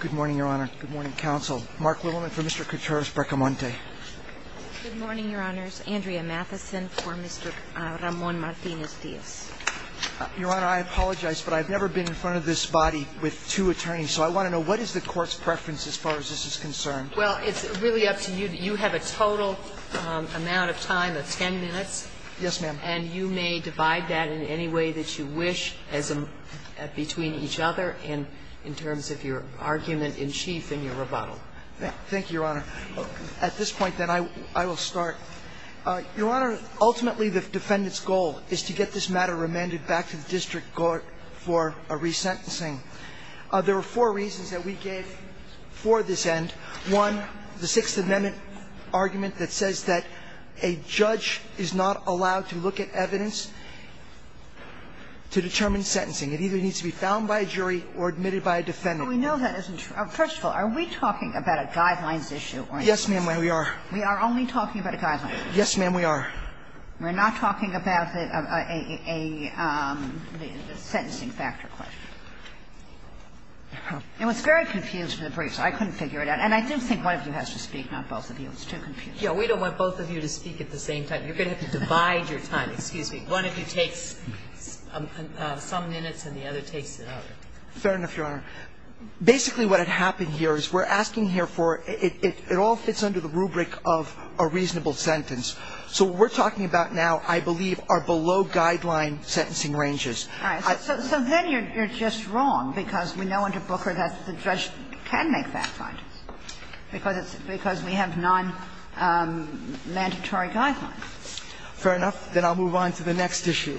Good morning, Your Honor. Good morning, Counsel. Mark Littleman for Mr. Coutures-Brecamonte. Good morning, Your Honors. Andrea Matheson for Mr. Ramon Martinez-Diaz. Your Honor, I apologize, but I've never been in front of this body with two attorneys, so I want to know, what is the Court's preference as far as this is concerned? Well, it's really up to you. You have a total amount of time of 10 minutes. Yes, ma'am. And you may divide that in any way that you wish between each other in terms of your argument in chief in your rebuttal. Thank you, Your Honor. At this point, then, I will start. Your Honor, ultimately, the defendant's goal is to get this matter remanded back to the district court for a resentencing. There are four reasons that we gave for this end. One, the Sixth Amendment argument that says that a judge is not allowed to look at evidence to determine sentencing. It either needs to be found by a jury or admitted by a defendant. We know that isn't true. First of all, are we talking about a guidelines issue? Yes, ma'am, we are. We are only talking about a guidelines issue. Yes, ma'am, we are. We're not talking about a sentencing factor question. It was very confused in the brief, so I couldn't figure it out. And I do think one of you has to speak, not both of you. It's too confusing. Yeah, we don't want both of you to speak at the same time. You're going to have to divide your time. Excuse me. One of you takes some minutes and the other takes the other. Fair enough, Your Honor. Basically, what had happened here is we're asking here for – it all fits under the rubric of a reasonable sentence. So what we're talking about now, I believe, are below-guideline sentencing ranges. All right. So then you're just wrong because we know under Booker that the judge can make fact-finders because it's – because we have non-mandatory guidelines. Fair enough. Then I'll move on to the next issue.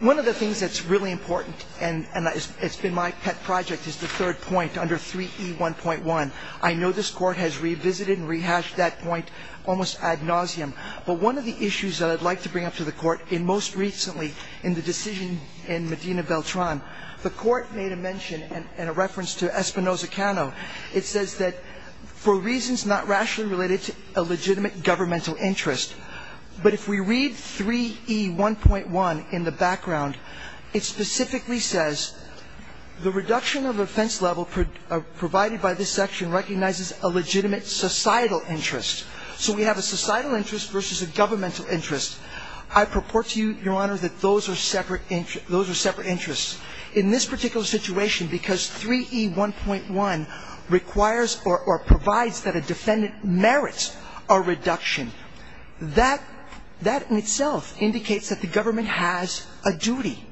One of the things that's really important, and it's been my pet project, is the third point under 3E1.1. I know this Court has revisited and rehashed that point almost ad nauseam, but one of the issues that I'd like to bring up to the Court in most recently in the decision in Medina-Beltran, the Court made a mention in a reference to Espinoza-Cano. It says that for reasons not rationally related to a legitimate governmental interest, but if we read 3E1.1 in the background, it specifically says, the reduction of offense level provided by this section recognizes a legitimate societal interest. So we have a societal interest versus a governmental interest. I purport to you, Your Honor, that those are separate interests. In this particular situation, because 3E1.1 requires or provides that a defendant merits a reduction, that in itself indicates that the government has a duty.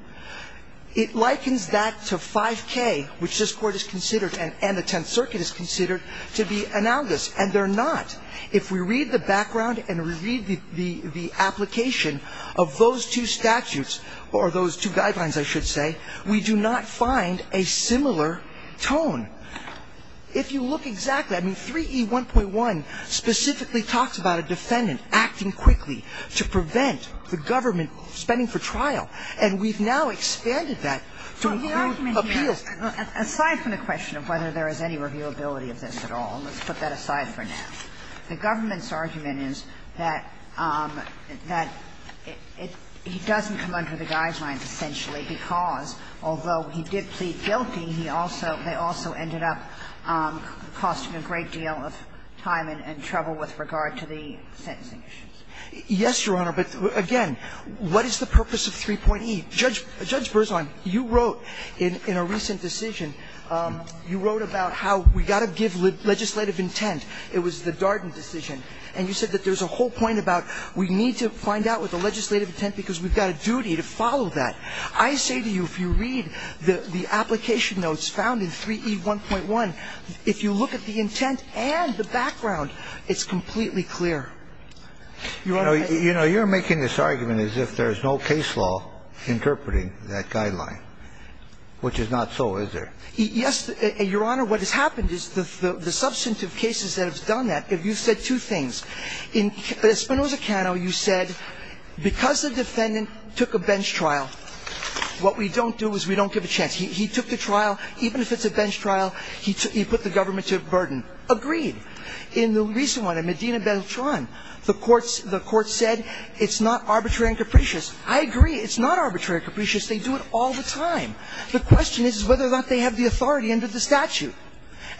It likens that to 5K, which this Court has considered and the Tenth Circuit has considered to be analogous, and they're not. If we read the background and we read the application of those two statutes, or those two guidelines, I should say, we do not find a similar tone. If you look exactly, I mean, 3E1.1 specifically talks about a defendant acting quickly to prevent the government spending for trial, and we've now expanded that to include appeals. Kagan. Aside from the question of whether there is any reviewability of this at all, let's put that aside for now, the government's argument is that it doesn't come under the guidelines, essentially, because although he did plead guilty, he also ended up costing a great deal of time and trouble with regard to the sentencing issues. Yes, Your Honor, but again, what is the purpose of 3.E? Judge Berzon, you wrote in a recent decision, you wrote about how we got to give legislative intent. It was the Darden decision. And you said that there's a whole point about we need to find out what the legislative intent, because we've got a duty to follow that. I say to you if you read the application notes found in 3E1.1, if you look at the intent and the background, it's completely clear. You know, you're making this argument as if there's no case law interpreting that guideline, which is not so, is there? Yes, Your Honor. What has happened is the substantive cases that have done that. You said two things. In Espinoza-Cano, you said because the defendant took a bench trial, what we don't do is we don't give a chance. He took the trial. Even if it's a bench trial, he put the government to a burden. Agreed. In the recent one, in Medina-Beltran, the court said it's not arbitrary and capricious. I agree. It's not arbitrary and capricious. They do it all the time. The question is whether or not they have the authority under the statute.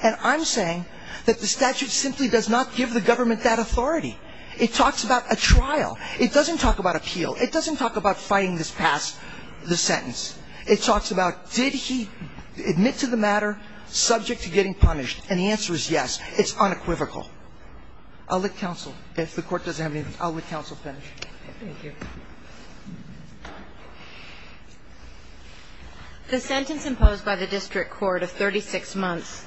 And I'm saying that the statute simply does not give the government that authority. It talks about a trial. It doesn't talk about appeal. It doesn't talk about fighting this past the sentence. It talks about did he admit to the matter subject to getting punished. And the answer is yes. It's unequivocal. I'll let counsel. If the Court doesn't have anything, I'll let counsel finish. Thank you. The sentence imposed by the district court of 36 months,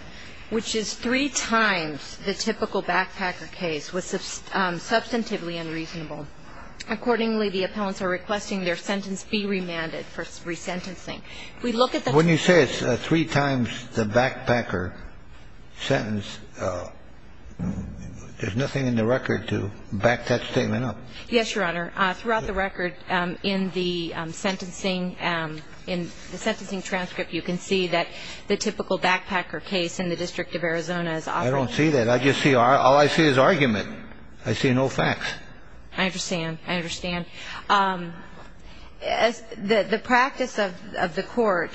which is three times the typical backpacker case, was substantively unreasonable. Accordingly, the appellants are requesting their sentence be remanded for resentencing. When you say it's three times the backpacker sentence, there's nothing in the record to back that statement up. Yes, Your Honor. Throughout the record in the sentencing, in the sentencing transcript, you can see that the typical backpacker case in the District of Arizona is offered. I don't see that. All I see is argument. I see no facts. I understand. I understand. The practice of the court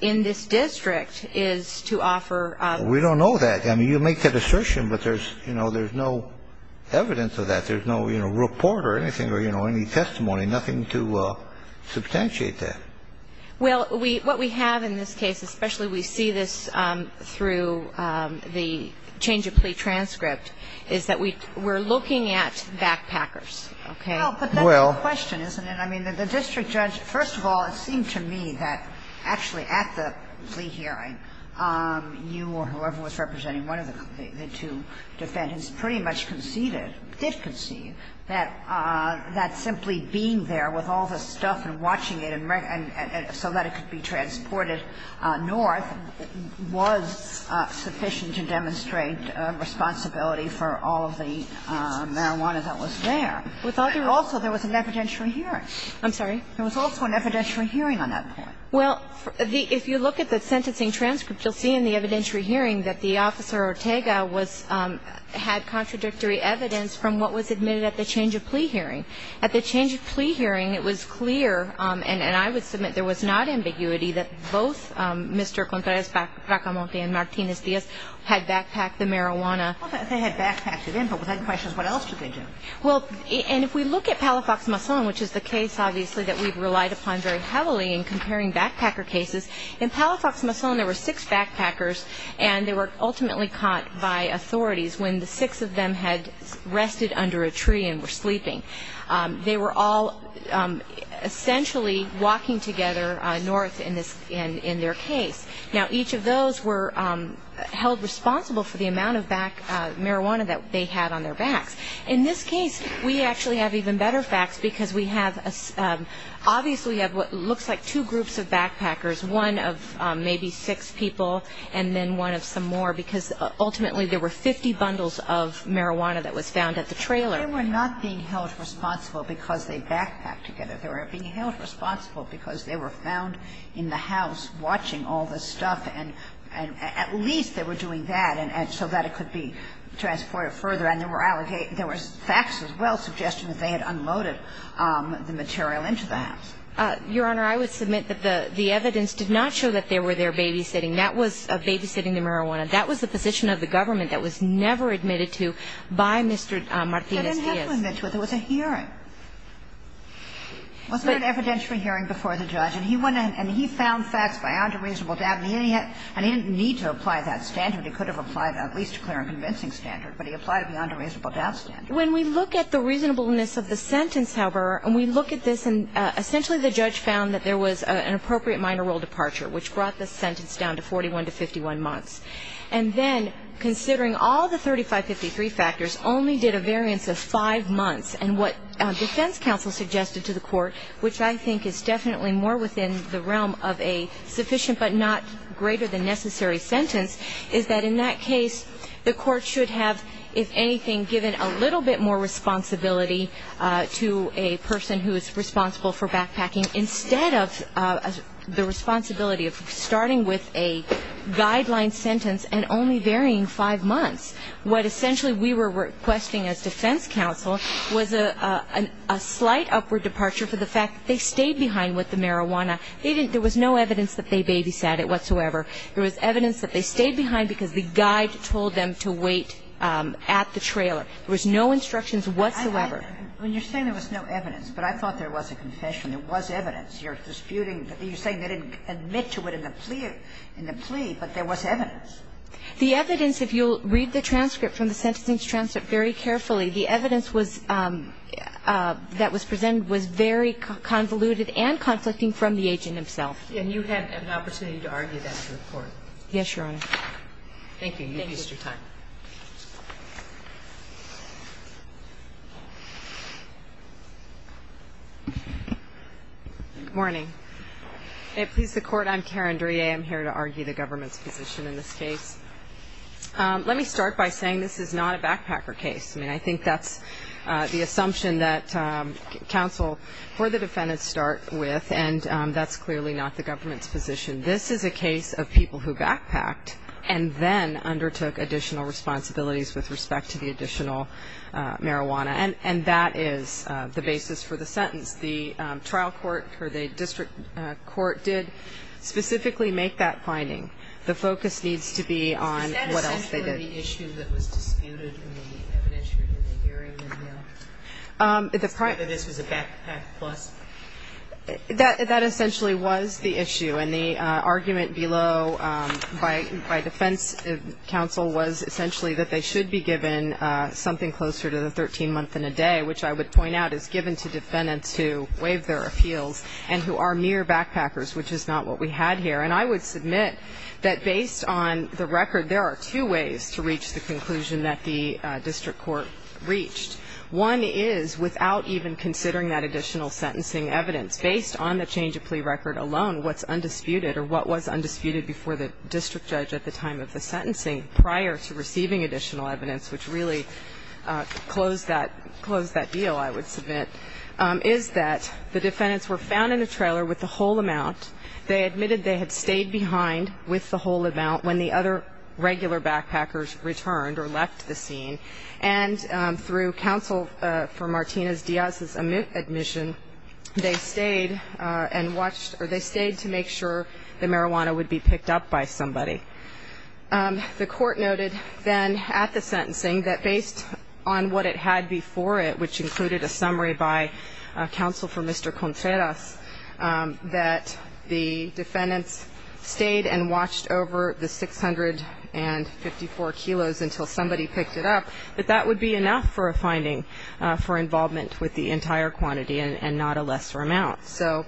in this district is to offer. We don't know that. I mean, you make that assertion, but there's no evidence of that. There's no report or anything or any testimony, nothing to substantiate that. Well, what we have in this case, especially we see this through the change of plea transcript, is that we're looking at backpackers, okay? Well, but that's the question, isn't it? I mean, the district judge, first of all, it seemed to me that actually at the plea hearing, you or whoever was representing one of the two defendants pretty much conceded or did concede that simply being there with all the stuff and watching it so that could be transported north was sufficient to demonstrate responsibility for all of the marijuana that was there. Also, there was an evidentiary hearing. I'm sorry? There was also an evidentiary hearing on that point. Well, if you look at the sentencing transcript, you'll see in the evidentiary hearing that the officer, Ortega, had contradictory evidence from what was admitted at the change of plea hearing. At the change of plea hearing, it was clear, and I would submit there was not ambiguity, that both Mr. Contreras-Racamonte and Martinez-Diaz had backpacked the marijuana. Well, they had backpacked it in, but with that question, what else did they do? Well, and if we look at Palafox-Mason, which is the case, obviously, that we've relied upon very heavily in comparing backpacker cases, in Palafox-Mason there were six backpackers, and they were ultimately caught by authorities when the six of them had They were all essentially walking together north in their case. Now, each of those were held responsible for the amount of marijuana that they had on their backs. In this case, we actually have even better facts because we have, obviously, we have what looks like two groups of backpackers, one of maybe six people and then one of some more, because ultimately there were 50 bundles of marijuana that was found at the trailer. They were not being held responsible because they backpacked together. They were being held responsible because they were found in the house watching all this stuff, and at least they were doing that so that it could be transported further, and there were facts as well suggesting that they had unloaded the material into the house. Your Honor, I would submit that the evidence did not show that they were there babysitting. That was babysitting the marijuana. And then there was a hearing. Was there an evidentiary hearing before the judge? And he went in and he found facts beyond a reasonable doubt, and he didn't need to apply that standard. He could have applied at least a clear and convincing standard, but he applied it beyond a reasonable doubt standard. When we look at the reasonableness of the sentence, however, and we look at this and essentially the judge found that there was an appropriate minor role departure which brought the sentence down to 41 to 51 months. And then considering all the 3553 factors only did a variance of five months, and what defense counsel suggested to the court, which I think is definitely more within the realm of a sufficient but not greater than necessary sentence, is that in that case the court should have, if anything, given a little bit more responsibility to a person who is responsible for backpacking instead of the responsibility of starting with a guideline sentence and only varying five months. What essentially we were requesting as defense counsel was a slight upward departure for the fact that they stayed behind with the marijuana. They didn't – there was no evidence that they babysat it whatsoever. There was evidence that they stayed behind because the guide told them to wait at the trailer. There was no instructions whatsoever. When you're saying there was no evidence, but I thought there was a confession, there was evidence. You're disputing – you're saying they didn't admit to it in the plea, but there was evidence. The evidence, if you'll read the transcript from the sentencing transcript very carefully, the evidence was – that was presented was very convoluted and conflicting from the agent himself. And you had an opportunity to argue that to the court. Yes, Your Honor. Thank you. You've used your time. Good morning. May it please the Court, I'm Karen Duryea. I'm here to argue the government's position in this case. Let me start by saying this is not a backpacker case. I mean, I think that's the assumption that counsel for the defendant start with, and that's clearly not the government's position. This is a case of people who backpacked and then undertook additional responsibilities with respect to the additional marijuana. And that is the basis for the sentence. The trial court, or the district court, did specifically make that finding. The focus needs to be on what else they did. Is that essentially the issue that was disputed in the evidence or in the hearing in the mail? Whether this was a backpack plus? That essentially was the issue. And the argument below by defense counsel was essentially that they should be given something closer to the 13-month-and-a-day, which I would point out is given to defendants who waived their appeals and who are mere backpackers, which is not what we had here. And I would submit that based on the record, there are two ways to reach the conclusion that the district court reached. One is, without even considering that additional sentencing evidence, based on the change of plea record alone, what's undisputed or what was undisputed before the district judge at the time of the sentencing prior to receiving additional evidence, which really closed that deal, I would submit, is that the defendants were found in a trailer with the whole amount. They admitted they had stayed behind with the whole amount when the other regular backpackers returned or left the scene. And through counsel for Martinez-Diaz's admission, they stayed to make sure the marijuana would be picked up by somebody. The court noted then at the sentencing that based on what it had before it, which included a summary by counsel for Mr. Contreras, that the defendants stayed and watched over the 654 kilos until somebody picked it up, that that would be enough for a finding for involvement with the entire quantity and not a lesser amount. So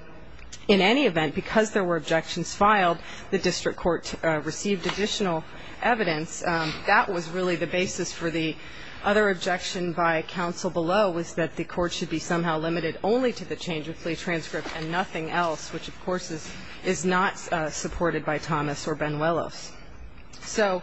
in any event, because there were objections filed, the district court received additional evidence. That was really the basis for the other objection by counsel below was that the court should be somehow limited only to the change of plea transcript and nothing else, which, of course, is not supported by Thomas or Benuelos. So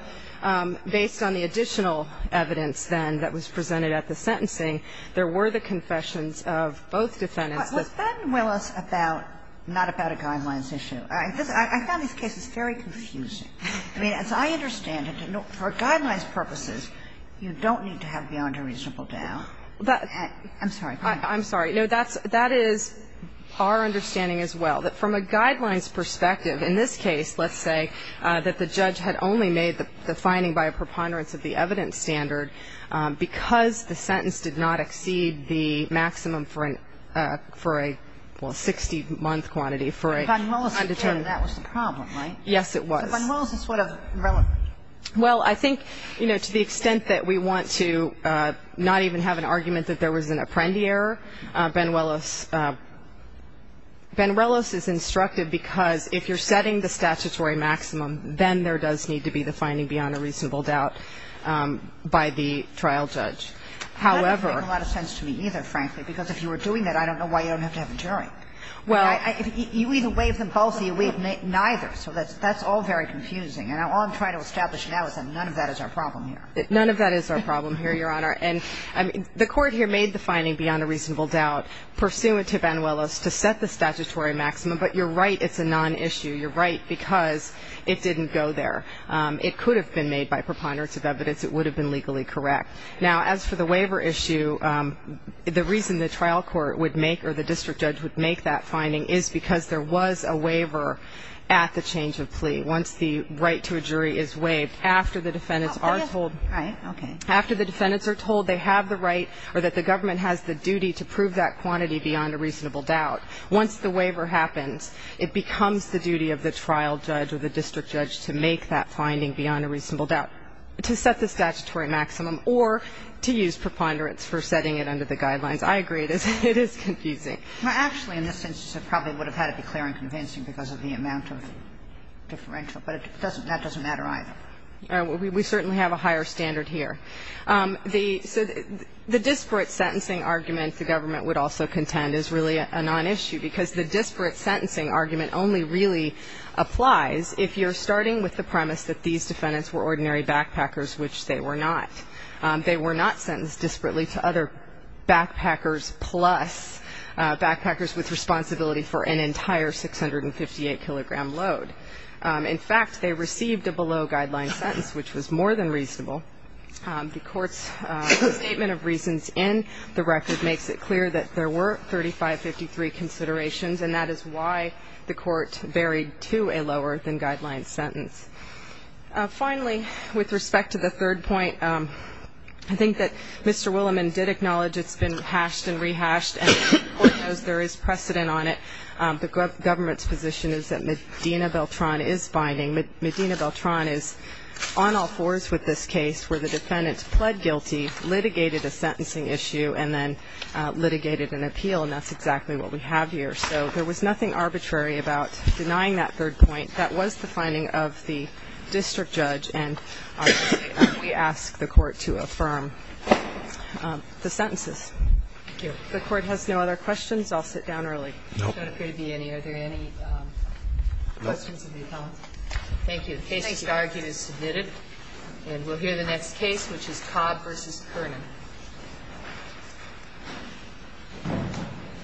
based on the additional evidence then that was presented at the sentencing, there were the confessions of both defendants. But was Benuelos not about a guidelines issue? I found this case very confusing. I mean, as I understand it, for guidelines purposes, you don't need to have beyond a reasonable doubt. I'm sorry. I'm sorry. That is our understanding as well. That from a guidelines perspective in this case, let's say that the judge had only made the finding by a preponderance of the evidence standard because the sentence did not exceed the maximum for a 60-month quantity for an undetermined. But Benuelos determined that was the problem, right? Yes, it was. So Benuelos is sort of relevant. Well, I think, you know, to the extent that we want to not even have an argument that there was an Apprendi error, Benuelos is instructive because if you're setting the statutory maximum, then there does need to be the finding beyond a reasonable doubt by the trial judge. That doesn't make a lot of sense to me either, frankly, because if you were doing that, I don't know why you don't have to have a jury. You either waive them both or you waive neither. So that's all very confusing. And all I'm trying to establish now is that none of that is our problem here. None of that is our problem here, Your Honor. And the Court here made the finding beyond a reasonable doubt pursuant to Benuelos to set the statutory maximum. But you're right, it's a non-issue. You're right because it didn't go there. It could have been made by preponderance of evidence. It would have been legally correct. Now, as for the waiver issue, the reason the trial court would make or the district judge would make that finding is because there was a waiver at the change of plea. Once the right to a jury is waived, after the defendants are told they have the right or that the government has the duty to prove that quantity beyond a reasonable doubt, once the waiver happens, it becomes the duty of the trial judge or the district judge to make that finding beyond a reasonable doubt to set the statutory maximum or to use preponderance for setting it under the guidelines. I agree it is confusing. Actually, in this instance, it probably would have had to be clear and convincing because of the amount of differential, but that doesn't matter either. We certainly have a higher standard here. The disparate sentencing argument the government would also contend is really a non-issue because the disparate sentencing argument only really applies if you're starting with the premise that these defendants were ordinary backpackers, which they were not. They were not sentenced disparately to other backpackers plus backpackers with responsibility for an entire 658-kilogram load. In fact, they received a below-guideline sentence, which was more than reasonable. The Court's statement of reasons in the record makes it clear that there were 3,553 considerations, and that is why the Court buried to a lower-than-guideline sentence. Finally, with respect to the third point, I think that Mr. Williman did acknowledge it's been hashed and rehashed, and the Court knows there is precedent on it. The government's position is that Medina Beltran is binding. Medina Beltran is on all fours with this case where the defendant pled guilty, litigated a sentencing issue, and then litigated an appeal, and that's exactly what we have here. So there was nothing arbitrary about denying that third point. That was the finding of the district judge, and we ask the Court to affirm the sentences. Thank you. If the Court has no other questions, I'll sit down early. No. There don't appear to be any. Are there any questions of the appellant? No. Thank you. The case is argued as submitted, and we'll hear the next case, which is Cobb v. Kernan. Thank you.